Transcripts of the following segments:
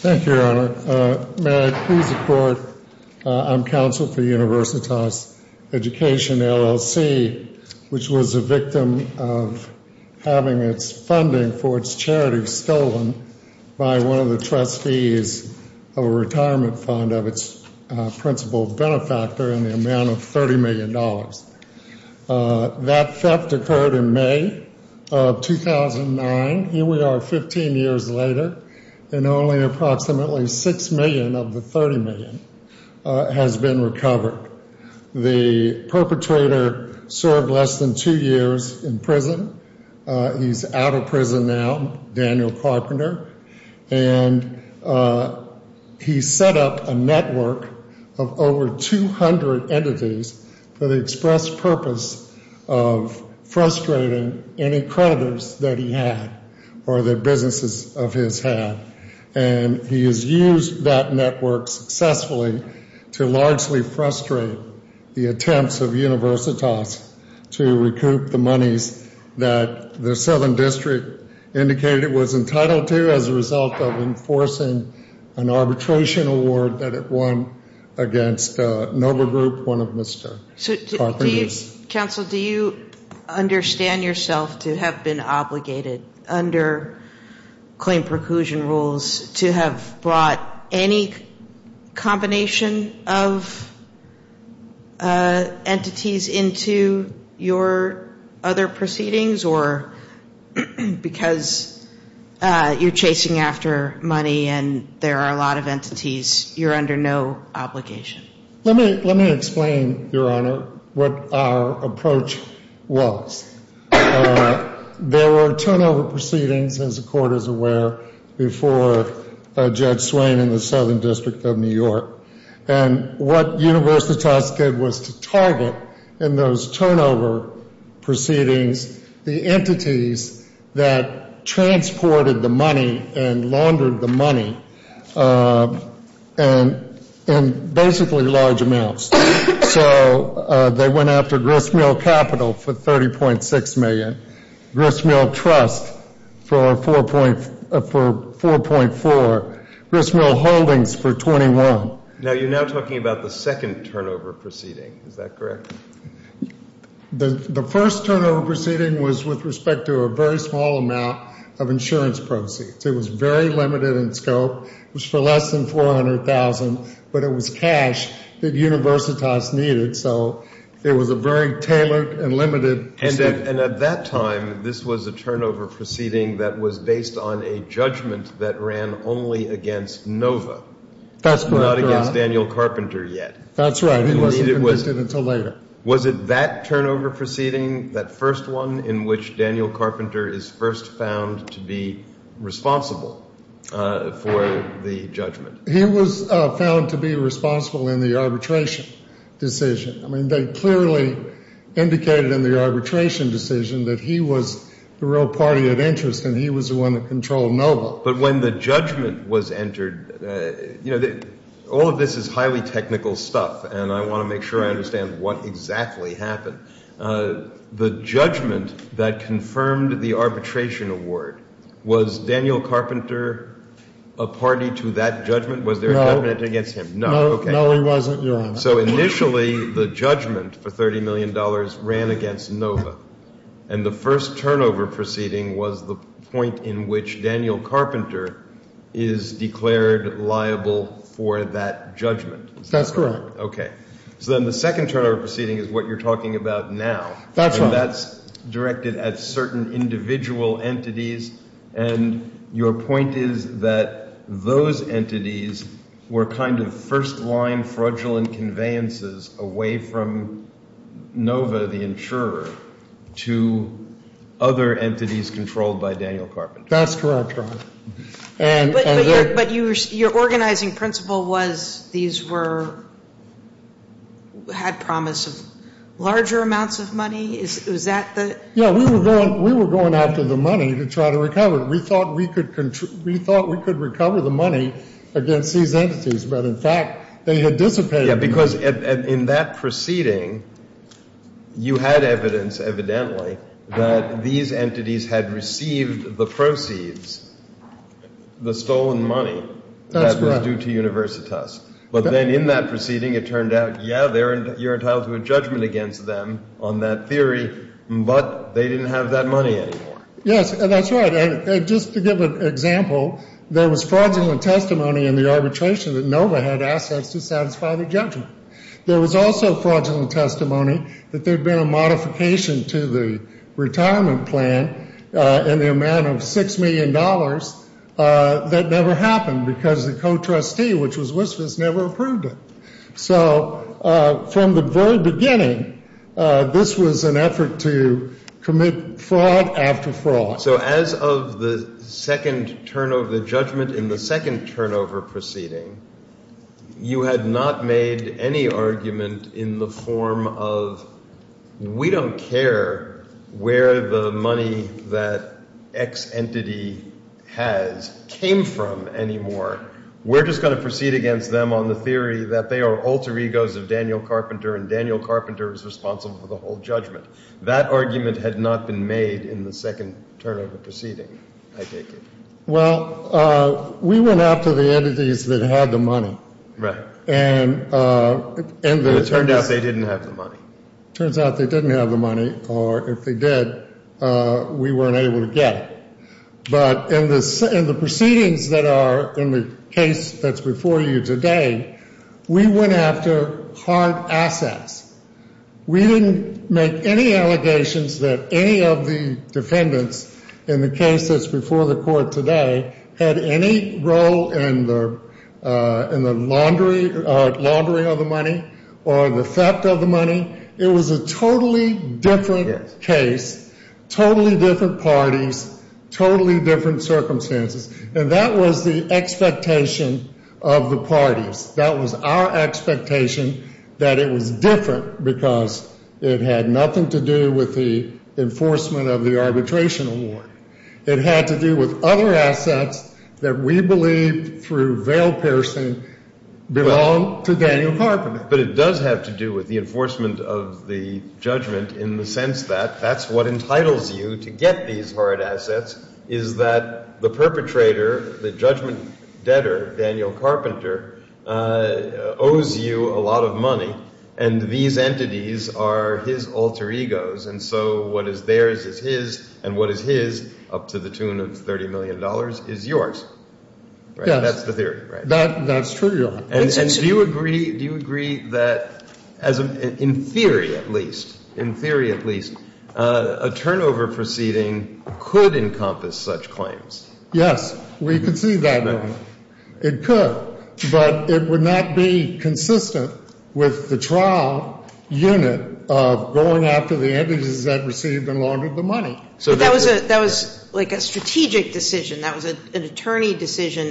Thank you, Your Honor. May I please report, I'm counsel for Universitas Education, LLC, which was a victim of having its funding for its charity stolen by one of the trustees of a retirement fund of its principal benefactor in the amount of $30 million. That theft occurred in May of 2009. Here we are 15 years later and only approximately $6 million of the $30 million has been recovered. The perpetrator served less than two years in prison. He's out of prison now, Daniel Carpenter, and he set up a network of over 200 entities that frustrated any creditors that he had or that businesses of his had. And he has used that network successfully to largely frustrate the attempts of Universitas to recoup the monies that the Southern District indicated it was entitled to as a result of enforcing an arbitration award that it won against Nova Group, one of Mr. Carpenter's. Counsel, do you understand yourself to have been obligated under claim preclusion rules to have brought any combination of entities into your other proceedings or because you're chasing after money and there are a lot of entities, you're under no obligation? Let me explain, Your Honor, what our approach was. There were turnover proceedings, as the Court is aware, before Judge Swain in the Southern District of New York. And what Universitas did was to target in those turnover proceedings the entities that transported the money and basically large amounts. So they went after Gristmill Capital for $30.6 million, Gristmill Trust for $4.4 million, Gristmill Holdings for $21 million. Now you're now talking about the second turnover proceeding. Is that correct? The first turnover proceeding was with respect to a very small amount of insurance proceeds. It was very limited in scope. It was for less than $400,000, but it was cash that Universitas needed. So it was a very tailored and limited... And at that time, this was a turnover proceeding that was based on a judgment that ran only against Nova, not against Daniel Carpenter yet. That's right. He wasn't convicted until later. Was it that turnover proceeding, that first one, in which he was found responsible for the judgment? He was found to be responsible in the arbitration decision. I mean, they clearly indicated in the arbitration decision that he was the real party of interest and he was the one that controlled Nova. But when the judgment was entered... You know, all of this is highly technical stuff, and I want to make sure I understand what exactly happened. The judgment that confirmed the arbitration award, was Daniel Carpenter a party to that judgment? Was there a judgment against him? No. Okay. No, he wasn't, Your Honor. So initially, the judgment for $30 million ran against Nova. And the first turnover proceeding was the point in which Daniel Carpenter is declared liable for that judgment. That's correct. Okay. So then the second turnover proceeding is what you're talking about now. That's right. And that's directed at certain individual entities. And your point is that those entities were kind of first-line fraudulent conveyances away from Nova, the insurer, to other entities controlled by Daniel Carpenter. That's correct, Your Honor. But your organizing principle was these were... had promise of larger amounts of money? Is that the... Yeah, we were going after the money to try to recover it. We thought we could recover the money against these entities. But in fact, they had dissipated. Yeah, because in that proceeding, you had evidence evidently that these entities had received the proceeds, the stolen money, that was due to Universitas. But then in that proceeding, it turned out, yeah, you're entitled to a judgment against them on that theory, but they didn't have that money anymore. Yes, that's right. And just to give an example, there was fraudulent testimony in the arbitration that was also fraudulent testimony that there had been a modification to the retirement plan in the amount of $6 million that never happened because the co-trustee, which was Wispas, never approved it. So from the very beginning, this was an effort to commit fraud after fraud. So as of the second turnover, the judgment in the second turnover proceeding, you had not made any argument in the form of, we don't care where the money that X entity has came from anymore. We're just going to proceed against them on the theory that they are alter egos of Daniel Carpenter and Daniel Carpenter is responsible for the whole judgment. That argument had not been made in the second turnover proceeding, I take it. Well, we went after the entities that had the money. It turned out they didn't have the money. It turns out they didn't have the money, or if they did, we weren't able to get it. But in the proceedings that are in the case that's before you today, we went after hard assets. We didn't make any allegations that any of the defendants in the case that's before the court today had any role in the laundering of the money or the theft of the money. It was a totally different case, totally different parties, totally different circumstances. And that was the expectation of the parties. That was our expectation that it was different because it had nothing to do with the enforcement of the arbitration award. It had to do with other assets that we believe through Vail Pearson belong to Daniel Carpenter. But it does have to do with the enforcement of the judgment in the sense that that's what entitles you to get these hard assets, is that the perpetrator, the judgment debtor, Daniel Carpenter, owes you a lot of money, and these entities are his alter egos. And so what is theirs is his, and what is his, up to the tune of $30 million, is yours. That's the theory, right? That's true, Your Honor. And do you agree that in theory at least, in theory at least, a turnover proceeding could encompass such claims? Yes, we can see that it could. But it would not be consistent with the trial unit of going after the attorney decision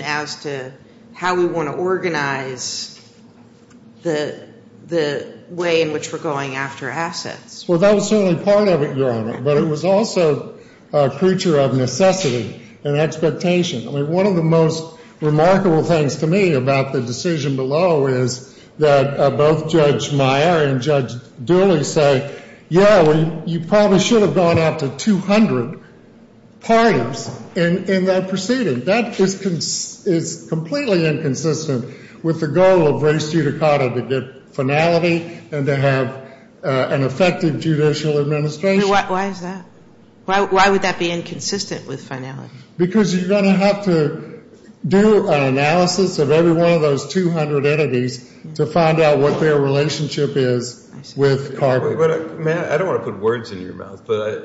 as to how we want to organize the way in which we're going after assets. Well, that was certainly part of it, Your Honor. But it was also a creature of necessity and expectation. I mean, one of the most remarkable things to me about the decision below is that both Judge Meyer and Judge Dooley say, yeah, you probably should have gone after 200 parties in that proceeding. That is completely inconsistent with the goal of res judicata to get finality and to have an effective judicial administration. Why is that? Why would that be inconsistent with finality? Because you're going to have to do an analysis of every one of those 200 entities to find out what their relationship is with carbon. I don't want to put words in your mouth, but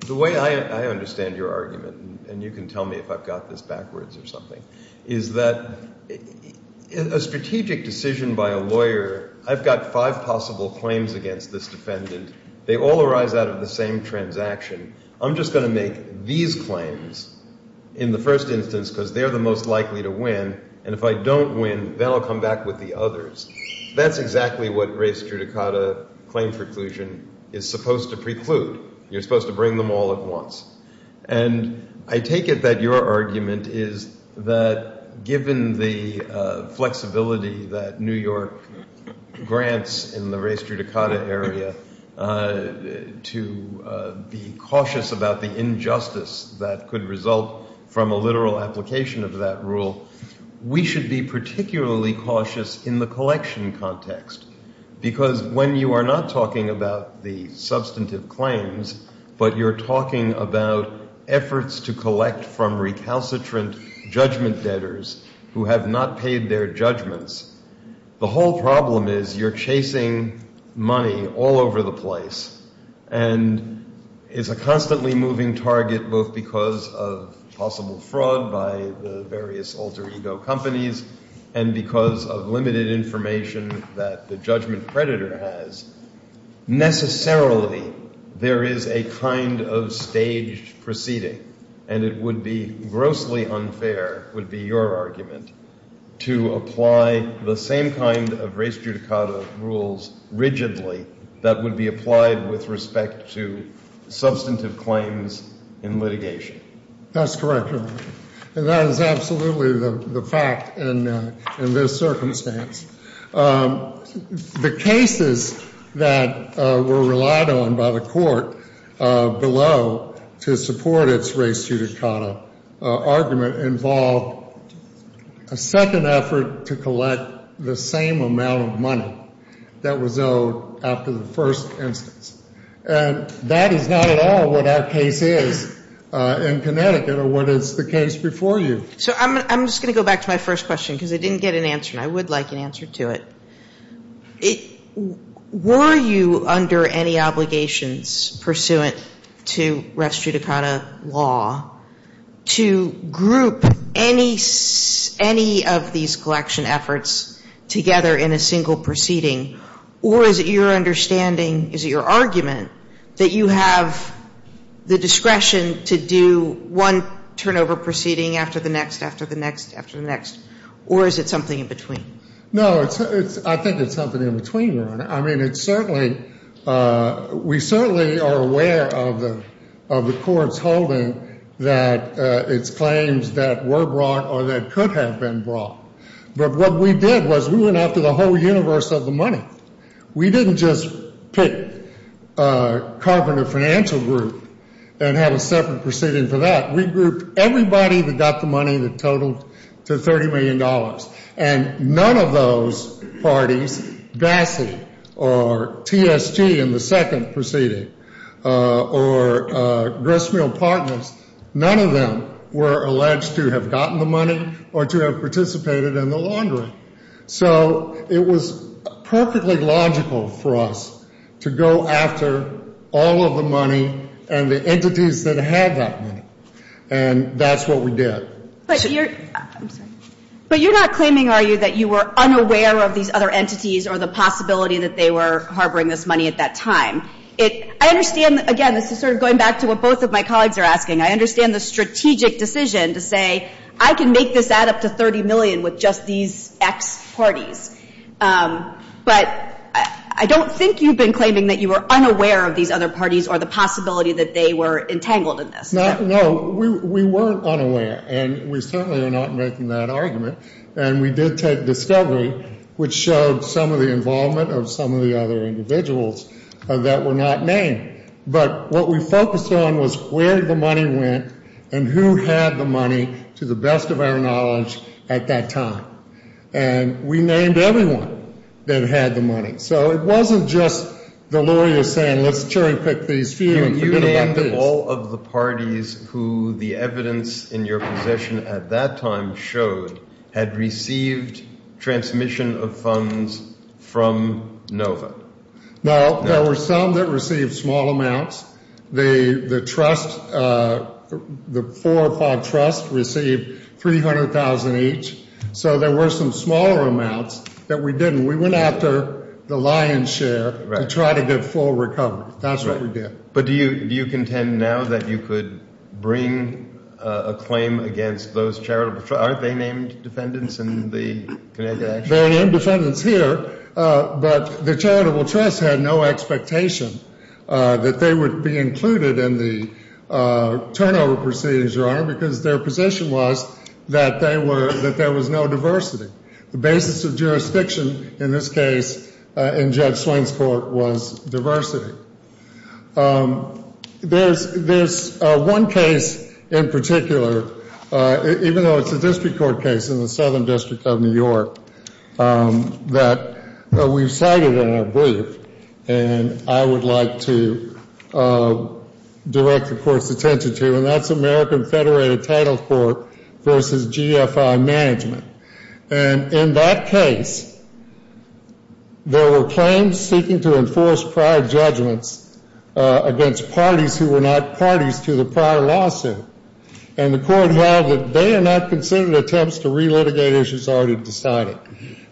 the way I understand your argument, and you can tell me if I've got this backwards or something, is that a strategic decision by a lawyer, I've got five possible claims against this defendant. They all arise out of the same transaction. I'm just going to make these claims in the first instance because they're the most likely to win. And if I don't win, they'll come back with the others. That's exactly what res judicata claim preclusion is supposed to preclude. You're supposed to bring them all at once. And I take it that your argument is that given the flexibility that New York grants in the res judicata area to be cautious about the injustice that could result from a literal application of that rule, we should be particularly cautious in the collection context. Because when you are not talking about the substantive claims, but you're talking about efforts to collect from recalcitrant judgment debtors who have not paid their judgments, the whole problem is you're chasing money all over the place. And it's a constantly moving target, both because of possible fraud by the various alter ego companies and because of limited information that the judgment predator has. Necessarily, there is a kind of staged proceeding, and it would be grossly unfair, would be your argument, to apply the same kind of res judicata rules rigidly that would be applied with respect to substantive claims in litigation. That's correct. And that is absolutely the fact in this circumstance. The cases that were relied on by the Court below to support its res judicata argument involved a second effort to collect the same amount of money that was owed after the first instance. And that is not at all what our case is in Connecticut or what is the case before you. So I'm just going to go back to my first question, because I didn't get an answer, and I would like an answer to it. Were you under any obligations pursuant to res judicata law to group any of these collection efforts together in a single proceeding? Or is it your understanding, is it your argument, that you have the discretion to do one turnover proceeding after the next, after the next, after the next? Or is it something in between? No. I think it's something in between, Your Honor. I mean, it's certainly we certainly are aware of the Court's holding that it's claims that were brought or that could have been brought. But what we did was we went after the whole universe of the money. We didn't just pick a carpenter financial group and have a separate proceeding for that. We grouped everybody that got the money that totaled to $30 million. And none of those parties, GASI or TSG in the second proceeding, or Gristmill Partners, none of them were alleged to have gotten the money or to have participated in the laundering. So it was perfectly logical for us to go after all of the money and the entities that had that money. And that's what we did. But you're not claiming, are you, that you were I understand, again, this is sort of going back to what both of my colleagues are asking. I understand the strategic decision to say, I can make this add up to $30 million with just these X parties. But I don't think you've been claiming that you were unaware of these other parties or the possibility that they were entangled in this. No, we weren't unaware. And we certainly are not making that argument. And we did take discovery, which showed some of the involvement of some of the other individuals that were not named. But what we focused on was where the money went and who had the money, to the best of our knowledge, at that time. And we named everyone that had the money. So it wasn't just the lawyers saying, let's cherry pick these few and forget about these. You named all of the parties who the evidence in your possession at that time showed had received transmission of funds from NOVA. No, there were some that received small amounts. The trust, the four or five trusts, received $300,000 each. So there were some smaller amounts that we didn't. We went after the lion's share to try to get full recovery. That's what we did. But do you contend now that you could bring a claim against those charitable trusts? They named defendants here. But the charitable trust had no expectation that they would be included in the turnover proceedings, Your Honor, because their position was that there was no diversity. The basis of jurisdiction in this case, in Judge Swain's court, was diversity. There's one case in particular, even though it's a district court case in the Southern District of New York, that we've cited in our brief and I would like to direct the Court's attention to, and that's American Federated Title Court v. GFI Management. And in that case, there were claims seeking to enforce prior judgments against parties who were not parties to the prior lawsuit. And the Court held that they are not considered attempts to relitigate issues already decided.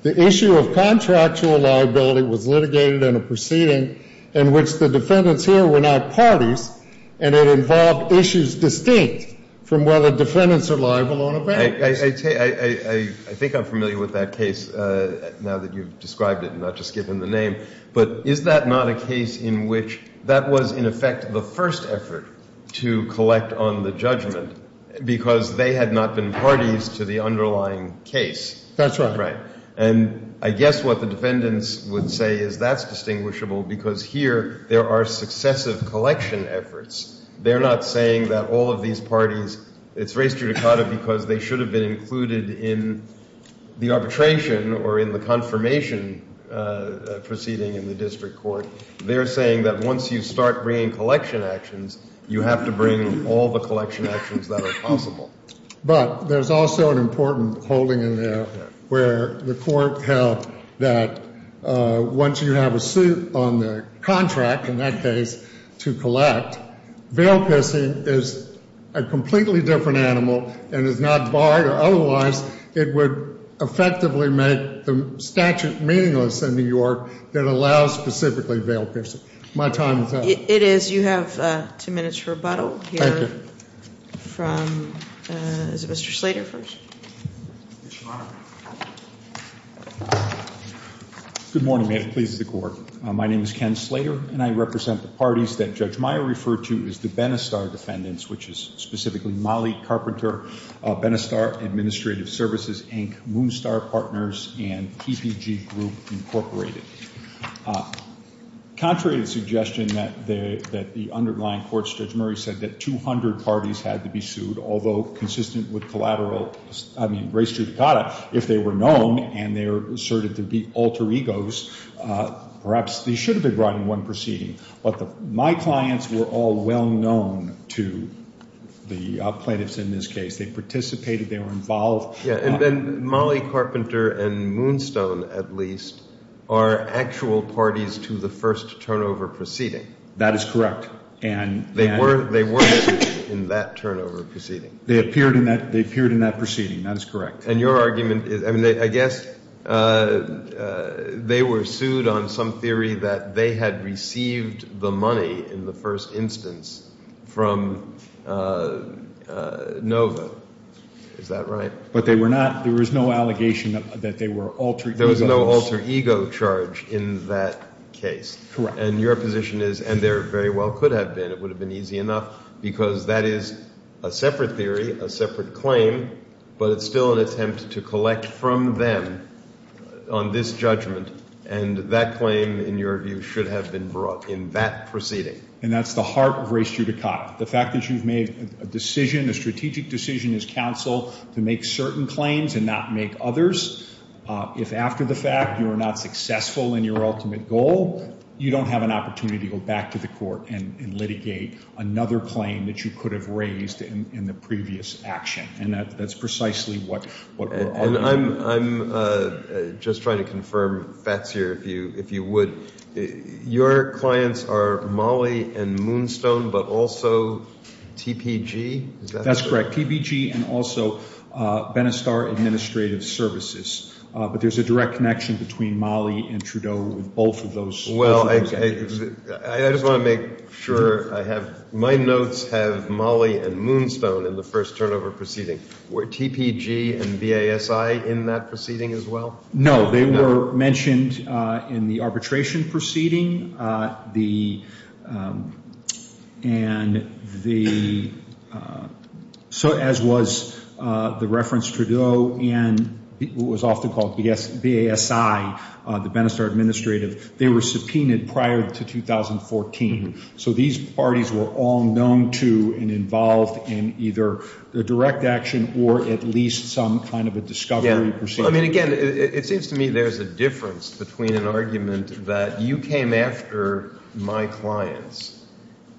The issue of contractual liability was litigated in a proceeding in which the defendants here were not parties, and it involved issues distinct from whether defendants are liable or not. I think I'm familiar with that case now that you've described it and not just given the name, but is that not a case in which that was in effect the first effort to collect on the judgment because they had not been parties to the underlying case? That's right. And I guess what the defendants would say is that's distinguishable because here there are successive collection efforts. They're not saying that all of these parties, it's res judicata because they should have been included in the arbitration or in the confirmation proceeding in the district court. They're saying that once you start bringing collection actions, you have to bring all the collection actions that are possible. But there's also an important holding in there where the Court held that once you have a suit on the contract, in that case, to collect, veil pissing is a completely different animal and is not barred or otherwise it would effectively make the statute meaningless in New York that allows specifically veil pissing. My time is up. It is. You have two minutes for rebuttal. Thank you. Here from, is it Mr. Slater first? Yes, Your Honor. Good morning. May it please the Court. My name is Ken Slater, and I represent the parties that Judge Meyer referred to as the Benistar defendants, which is specifically Mollie Carpenter, Benistar Administrative Services, Inc., Moonstar Partners, and PPG Group, Incorporated. Contrary to the suggestion that the underlying courts, Judge Murray said that 200 parties had to be sued, although consistent with race judicata, if they were known and they were asserted to be alter egos, perhaps they should have been brought in one proceeding. But my clients were all well known to the plaintiffs in this case. They participated. They were involved. And then Mollie Carpenter and Moonstone, at least, are actual parties to the first turnover proceeding. That is correct. They were in that turnover proceeding. They appeared in that proceeding. That is correct. And your argument is, I mean, I guess they were sued on some theory that they had received the money in the first instance from NOVA. Is that right? But they were not, there was no allegation that they were alter egos. There was no alter ego charge in that case. Correct. And your position is, and there very well could have been, it would have been easy enough, because that is a separate theory, a separate claim, but it's still an attempt to collect from them on this judgment. And that claim, in your view, should have been brought in that proceeding. And that's the heart of race judicata. The fact that you've made a decision, a strategic decision as counsel, to make certain claims and not make others, if after the fact you are not successful in your ultimate goal, you don't have an opportunity to go back to the court and litigate another claim that you could have raised in the previous action. And that's precisely what we're arguing. And I'm just trying to confirm, Fats, here, if you would, your clients are MOLLE and Moonstone, but also TPG? That's correct. And also Benestar Administrative Services. But there's a direct connection between MOLLE and Trudeau with both of those. Well, I just want to make sure I have, my notes have MOLLE and Moonstone in the first turnover proceeding. Were TPG and BASI in that proceeding as well? No, they were mentioned in the arbitration proceeding. And the, so as was the reference Trudeau and what was often called BASI, the Benestar Administrative, they were subpoenaed prior to 2014. So these parties were all known to and involved in either the direct action or at least some kind of a discovery proceeding. Well, I mean, again, it seems to me there's a difference between an argument that you came after my clients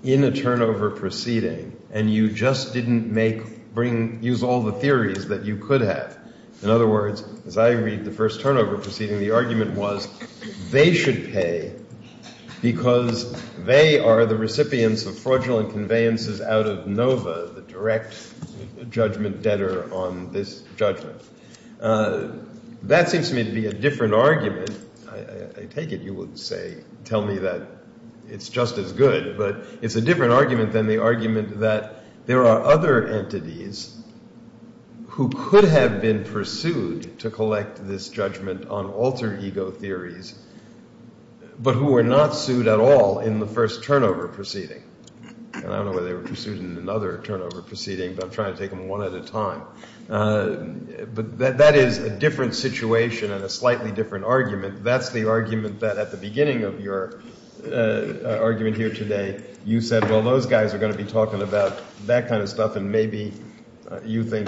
in a turnover proceeding and you just didn't make, bring, use all the theories that you could have. In other words, as I read the first turnover proceeding, the argument was they should pay because they are the recipients of fraudulent conveyances out of NOVA, the direct judgment debtor on this judgment. That seems to me to be a different argument. I take it you would say, tell me that it's just as good, but it's a different argument than the argument that there are other entities who could have been pursued to collect this judgment on alter ego theories, but who were not sued at all in the first turnover proceeding. I don't know whether they were pursued in another turnover proceeding, but I'm trying to take them one at a time. But that is a different situation and a slightly different argument. That's the argument that at the beginning of your argument here today you said, well, those guys are going to be talking about that kind of stuff and maybe you think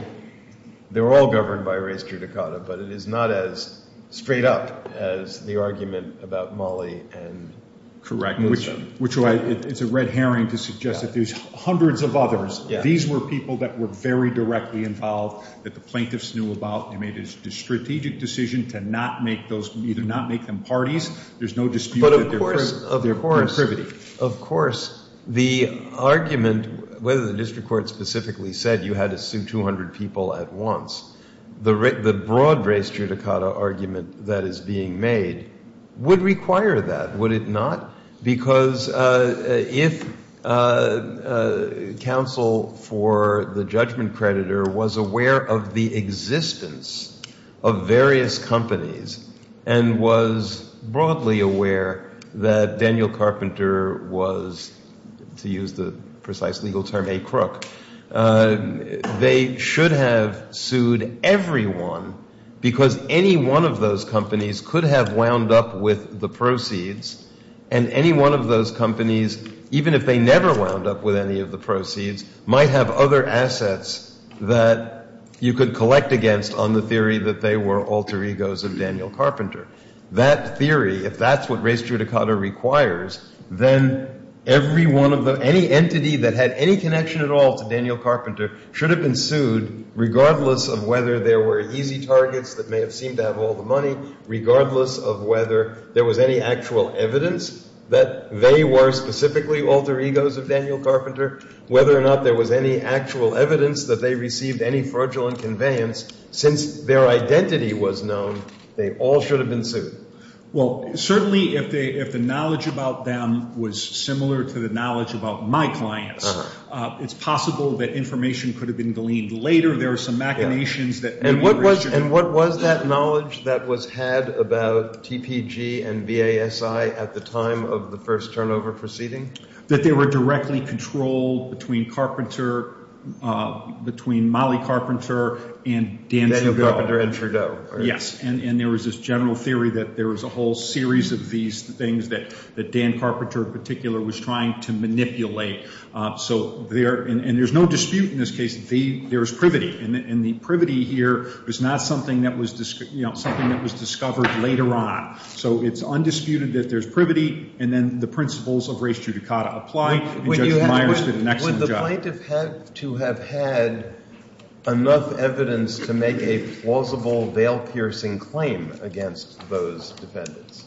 they're all governed by race judicata, but it is not as straight up as the argument about Mali and correctness of them. It's a red herring to suggest that there's hundreds of others. These were people that were very directly involved, that the plaintiffs knew about. They made a strategic decision to not make them parties. There's no dispute that they're privity. Of course, the argument, whether the district court specifically said you had to sue 200 people at once, the broad race judicata argument that is being made would require that, would it not? Because if counsel for the judgment creditor was aware of the existence of various companies and was broadly aware that Daniel Carpenter was, to use the precise legal term, a crook, they should have sued everyone because any one of those companies could have wound up with the proceeds and any one of those companies, even if they never wound up with any of the proceeds, might have other assets that you could collect against on the theory that they were alter egos of Daniel Carpenter. That theory, if that's what race judicata requires, then any entity that had any connection at all to Daniel Carpenter should have been sued regardless of whether there were easy targets that may have seemed to have all the money, regardless of whether there was any actual evidence that they were specifically alter egos of Daniel Carpenter, whether or not there was any actual evidence that they received any fraudulent conveyance. Since their identity was known, they all should have been sued. Well, certainly if the knowledge about them was similar to the knowledge about my clients, it's possible that information could have been gleaned later. There are some machinations. And what was that knowledge that was had about TPG and BASI at the time of the first turnover proceeding? That they were directly controlled between Carpenter, between Molly Carpenter and Daniel Carpenter. Daniel Carpenter and Trudeau. Yes. And there was this general theory that there was a whole series of these things that Dan Carpenter in particular was trying to manipulate. And there's no dispute in this case. There is privity. And the privity here is not something that was discovered later on. So it's undisputed that there's privity, and then the principles of race judicata apply, and Judge Myers did an excellent job. The plaintiff had to have had enough evidence to make a plausible veil-piercing claim against those defendants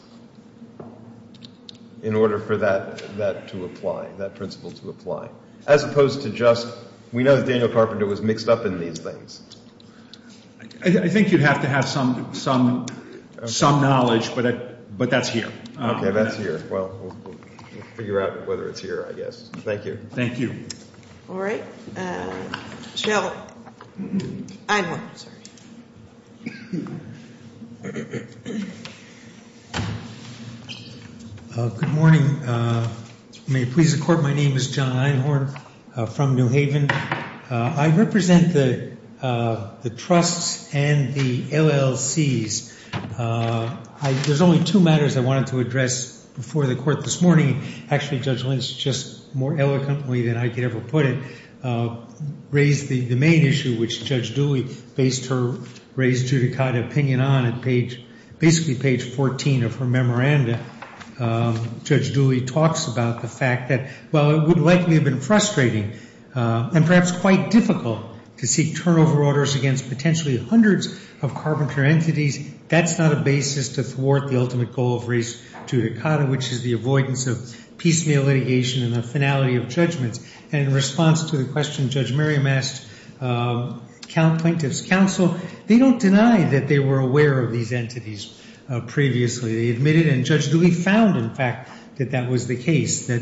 in order for that to apply, that principle to apply. As opposed to just, we know that Daniel Carpenter was mixed up in these things. I think you'd have to have some knowledge, but that's here. Okay, that's here. Well, we'll figure out whether it's here, I guess. Thank you. All right. John Einhorn. Good morning. May it please the Court, my name is John Einhorn from New Haven. I represent the trusts and the LLCs. There's only two matters I wanted to address before the Court this morning. Actually, Judge Lynch, just more eloquently than I could ever put it, raised the main issue which Judge Dooley based her race judicata opinion on at page, basically page 14 of her memoranda. Judge Dooley talks about the fact that while it would likely have been frustrating and perhaps quite difficult to seek turnover orders against potentially hundreds of Carpenter entities, that's not a basis to thwart the ultimate goal of race judicata, which is the avoidance of piecemeal litigation and the finality of judgments. And in response to the question Judge Merriam asked plaintiff's counsel, they don't deny that they were aware of these entities previously. They admitted, and Judge Dooley found, in fact, that that was the case, that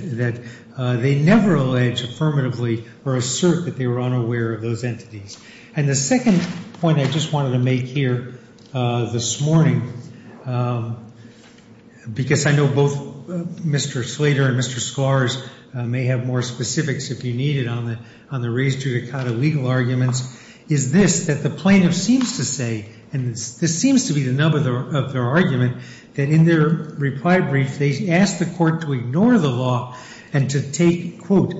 they never allege affirmatively or assert that they were unaware of those entities. And the second point I just wanted to make here this morning, because I know both Mr. Slater and Mr. Scars may have more specifics if you need it on the race judicata legal arguments, is this, that the plaintiff seems to say, and this seems to be the nub of their argument, that in their reply brief, they asked the court to ignore the law and to take, quote,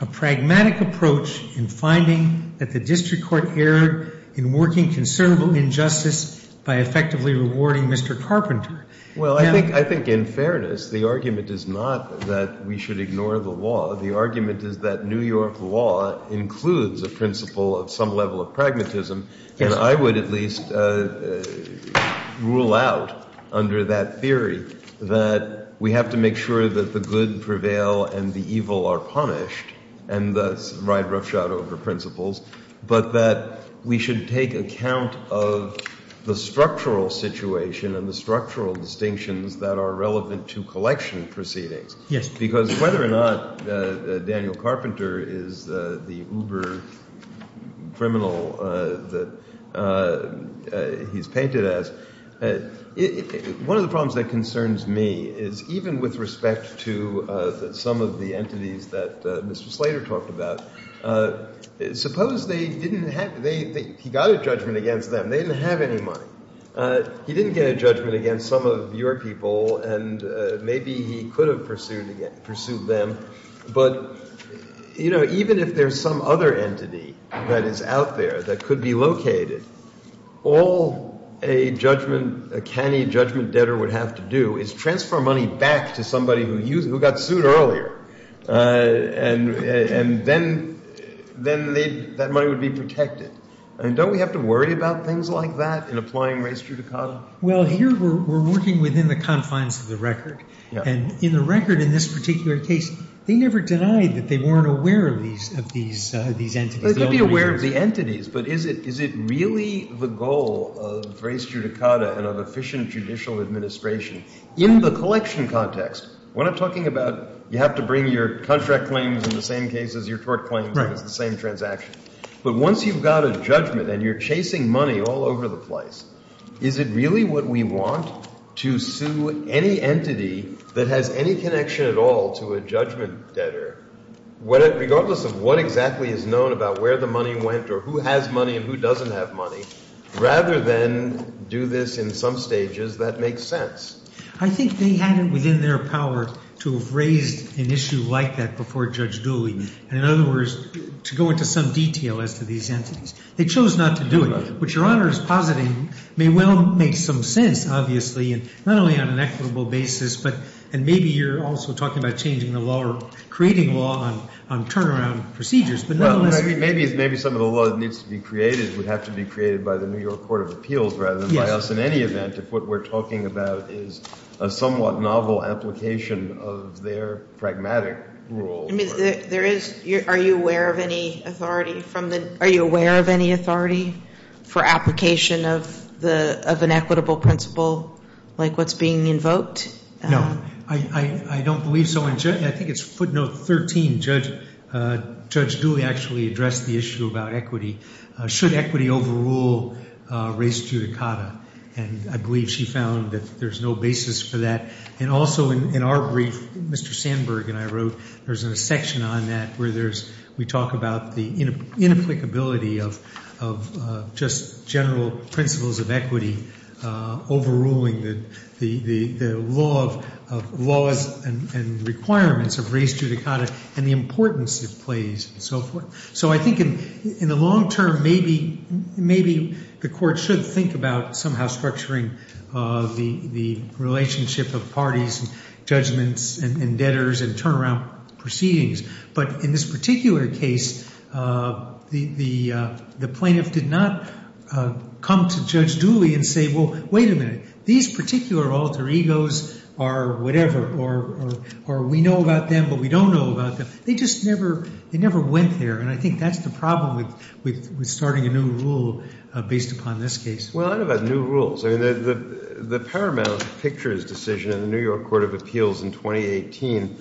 a pragmatic approach in finding that the district court erred in working considerable injustice by effectively rewarding Mr. Carpenter. Well, I think in fairness, the argument is not that we should ignore the law. The argument is that New York law includes a principle of some level of pragmatism. And I would at least rule out under that theory that we have to make sure that the good prevail and the evil are punished and thus ride roughshod over principles, but that we should take account of the structural situation and the structural distinctions that are relevant to collection proceedings. Yes. Because whether or not Daniel Carpenter is the uber criminal that he's painted as, one of the problems that concerns me is even with respect to some of the entities that Mr. Slater talked about, suppose they didn't have – he got a judgment against them. They didn't have any money. He didn't get a judgment against some of your people, and maybe he could have pursued them. But, you know, even if there's some other entity that is out there that could be located, all a judgment – a canny judgment debtor would have to do is transfer money back to somebody who got sued earlier. And then that money would be protected. And don't we have to worry about things like that in applying res judicata? Well, here we're working within the confines of the record. And in the record in this particular case, they never denied that they weren't aware of these entities. They could be aware of the entities, but is it really the goal of res judicata and of efficient judicial administration? In the collection context, when I'm talking about you have to bring your contract claims in the same case as your tort claims and it's the same transaction. But once you've got a judgment and you're chasing money all over the place, is it really what we want to sue any entity that has any connection at all to a judgment debtor? Regardless of what exactly is known about where the money went or who has money and who doesn't have money, rather than do this in some stages, that makes sense. I think they had it within their power to have raised an issue like that before Judge Dooley. And in other words, to go into some detail as to these entities. They chose not to do it. What Your Honor is positing may well make some sense, obviously, not only on an equitable basis, but maybe you're also talking about changing the law or creating law on turnaround procedures. Maybe some of the law that needs to be created would have to be created by the New York Court of Appeals rather than by us in any event if what we're talking about is a somewhat novel application of their pragmatic rule. Are you aware of any authority for application of an equitable principle like what's being invoked? No, I don't believe so. I think it's footnote 13, Judge Dooley actually addressed the issue about equity. Should equity overrule race judicata? And I believe she found that there's no basis for that. And also in our brief, Mr. Sandberg and I wrote, there's a section on that where we talk about the inapplicability of just general principles of equity overruling the laws and requirements of race judicata and the importance it plays and so forth. So I think in the long term, maybe the court should think about somehow structuring the relationship of parties and judgments and debtors and turnaround proceedings. But in this particular case, the plaintiff did not come to Judge Dooley and say, well, wait a minute. These particular alter egos are whatever, or we know about them, but we don't know about them. They just never went there. And I think that's the problem with starting a new rule based upon this case. Well, I don't know about new rules. The paramount pictures decision in the New York Court of Appeals in 2018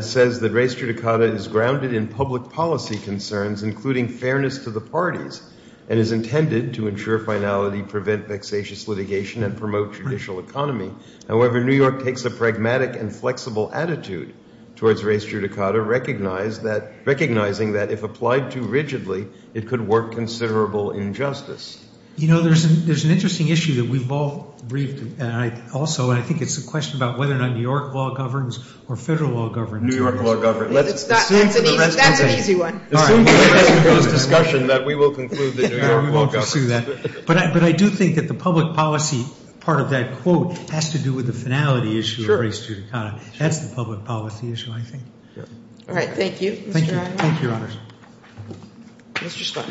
says that race judicata is grounded in public policy concerns, including fairness to the parties, and is intended to ensure finality, prevent vexatious litigation, and promote judicial economy. However, New York takes a pragmatic and flexible attitude towards race judicata, recognizing that if applied too rigidly, it could work considerable injustice. You know, there's an interesting issue that we've all briefed also, and I think it's a question about whether or not New York law governs or federal law governs. New York law governs. That's an easy one. Assume that we will conclude that New York law governs. But I do think that the public policy part of that quote has to do with the finality issue of race judicata. That's the public policy issue, I think. All right. Thank you. Mr. Stein.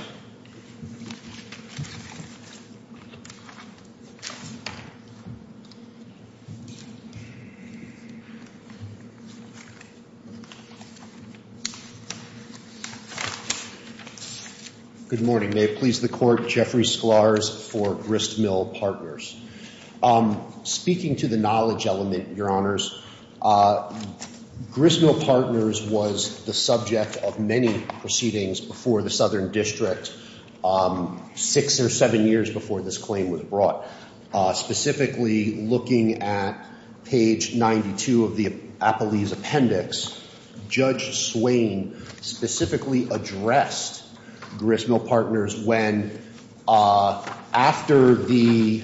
Good morning. May it please the Court. Jeffrey Sklarz for Gristmill Partners. Speaking to the knowledge element, Your Honors, Gristmill Partners was the subject of many proceedings before the Southern District. Specifically looking at page 92 of the Appellee's Appendix, Judge Swain specifically addressed Gristmill Partners when, after the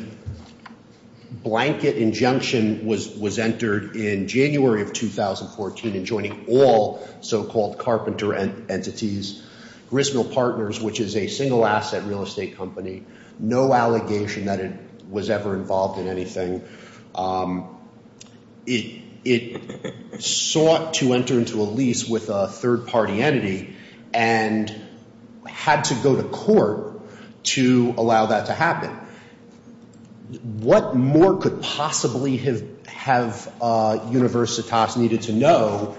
blanket injunction was entered in January of 2014 and joining all so-called carpenter entities, Gristmill Partners, which is a single-asset real estate company, no allegation that it was ever involved in anything, it sought to enter into a lease with a third-party entity and had to go to court to allow that to happen. What more could possibly have Universitas needed to know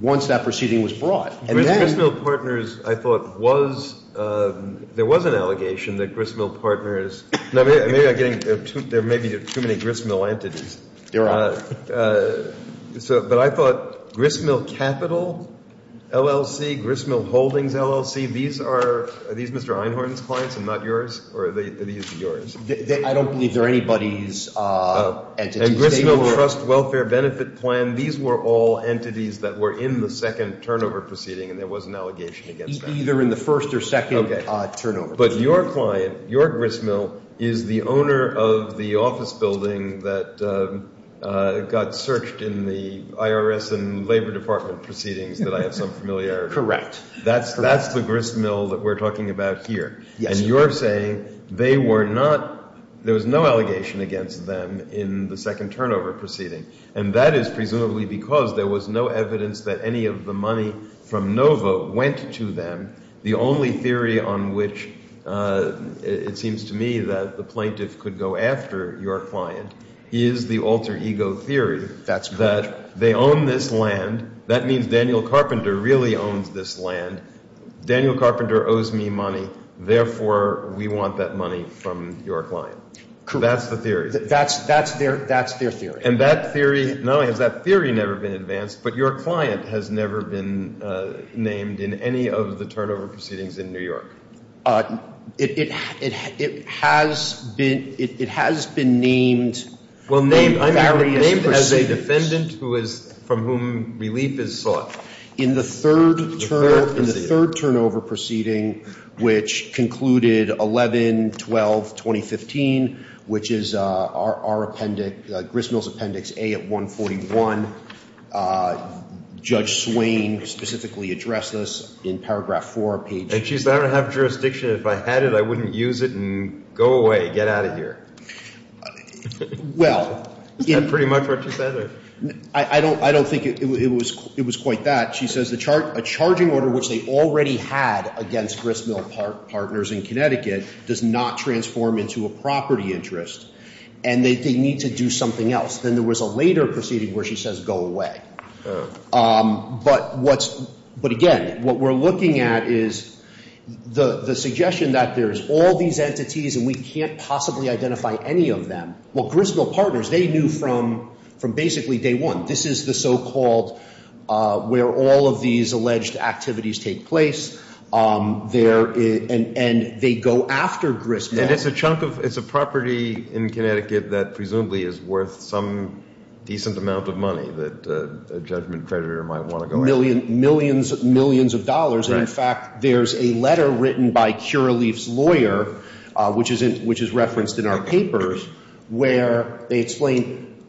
once that proceeding was brought? Gristmill Partners, I thought, was – there was an allegation that Gristmill Partners – maybe I'm getting – there may be too many Gristmill entities. Your Honor. But I thought Gristmill Capital, LLC, Gristmill Holdings, LLC, these are – are these Mr. Einhorn's clients and not yours? Or are these yours? I don't believe they're anybody's entities. And Gristmill Trust Welfare Benefit Plan, these were all entities that were in the second turnover proceeding and there was an allegation against that. Either in the first or second turnover. Okay. But your client, your Gristmill, is the owner of the office building that got searched in the IRS and Labor Department proceedings that I have some familiarity with. Correct. That's the Gristmill that we're talking about here. Yes. Because you're saying they were not – there was no allegation against them in the second turnover proceeding. And that is presumably because there was no evidence that any of the money from Novo went to them. The only theory on which it seems to me that the plaintiff could go after your client is the alter ego theory. That's correct. That they own this land. That means Daniel Carpenter really owns this land. Daniel Carpenter owes me money. Therefore, we want that money from your client. Correct. That's the theory. That's their theory. And that theory – not only has that theory never been advanced, but your client has never been named in any of the turnover proceedings in New York. It has been named in various proceedings. Well, named as a defendant from whom relief is sought. In the third turnover proceeding, which concluded 11-12-2015, which is our appendix, Gristmill's appendix A at 141, Judge Swain specifically addressed this in paragraph 4, page – And she said I don't have jurisdiction. If I had it, I wouldn't use it and go away, get out of here. Well – Is that pretty much what she said? I don't think it was quite that. She says a charging order, which they already had against Gristmill Partners in Connecticut, does not transform into a property interest, and they need to do something else. Then there was a later proceeding where she says go away. But again, what we're looking at is the suggestion that there's all these entities and we can't possibly identify any of them. Well, Gristmill Partners, they knew from basically day one. This is the so-called – where all of these alleged activities take place. And they go after Gristmill. And it's a chunk of – it's a property in Connecticut that presumably is worth some decent amount of money that a judgment creditor might want to go after. Millions of dollars. And, in fact, there's a letter written by Curaleaf's lawyer, which is referenced in our papers, where they explain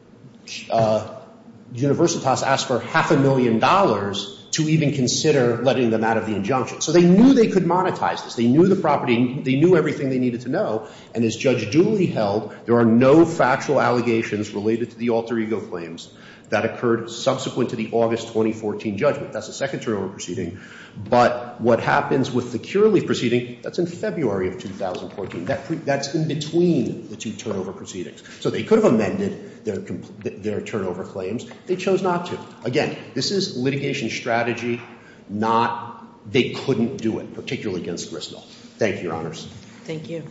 Universitas asked for half a million dollars to even consider letting them out of the injunction. So they knew they could monetize this. They knew the property. They knew everything they needed to know. And as Judge Dooley held, there are no factual allegations related to the alter ego claims that occurred subsequent to the August 2014 judgment. That's a second turnover proceeding. But what happens with the Curaleaf proceeding, that's in February of 2014. That's in between the two turnover proceedings. So they could have amended their turnover claims. They chose not to. Again, this is litigation strategy, not – they couldn't do it, particularly against Gristmill. Thank you, Your Honors. Thank you.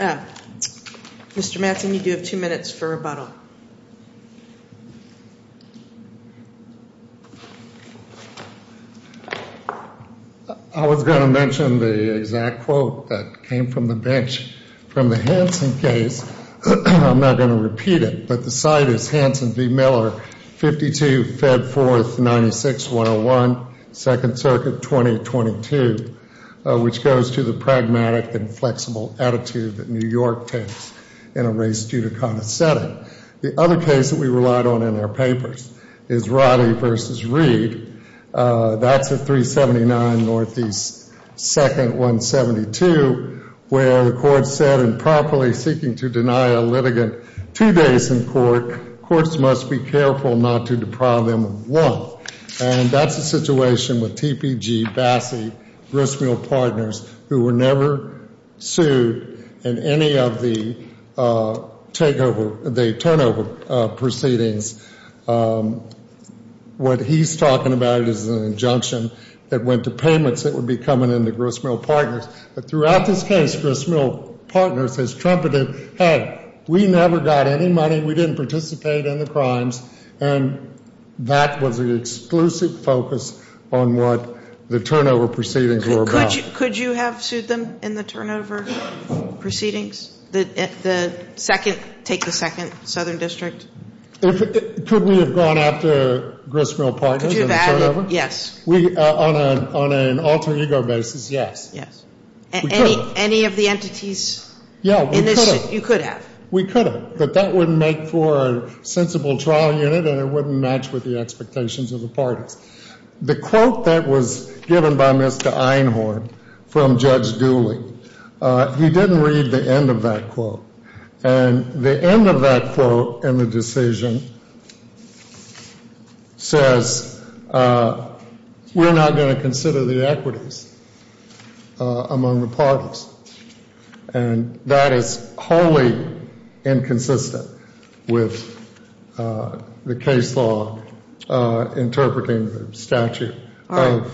Mr. Mattson, you do have two minutes for rebuttal. I was going to mention the exact quote that came from the bench from the Hansen case. I'm not going to repeat it, but the site is Hansen v. Miller, 52, Feb. 4, 96-101, Second Circuit, 2022, which goes to the pragmatic and flexible attitude that New York takes in a race judicata setting. The other case that we relied on in our papers is Roddy v. Reed. That's at 379 NE 2nd, 172, where the court said improperly seeking to deny a litigant two days in court, courts must be careful not to deprive them of one. And that's the situation with TPG, Bassey, Gristmill Partners, who were never sued in any of the turnover proceedings. What he's talking about is an injunction that went to payments that would be coming in to Gristmill Partners. Throughout this case, Gristmill Partners has trumpeted, hey, we never got any money, we didn't participate in the crimes, and that was the exclusive focus on what the turnover proceedings were about. Could you have sued them in the turnover proceedings? The second, take the second, Southern District? Could we have gone after Gristmill Partners in the turnover? Yes. On an alter ego basis, yes. Yes. Any of the entities in this you could have? We could have. But that wouldn't make for a sensible trial unit and it wouldn't match with the expectations of the parties. The quote that was given by Mr. Einhorn from Judge Dooley, he didn't read the end of that quote. And the end of that quote in the decision says, we're not going to consider the equities among the parties. And that is wholly inconsistent with the case law interpreting the statute of New York. All right.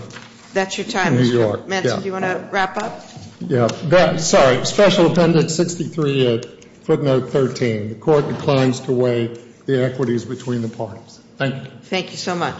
That's your time, Mr. Manson. Do you want to wrap up? Yeah. Sorry. Special Appendix 63, footnote 13. The court declines to weigh the equities between the parties. Thank you. Thank you so much.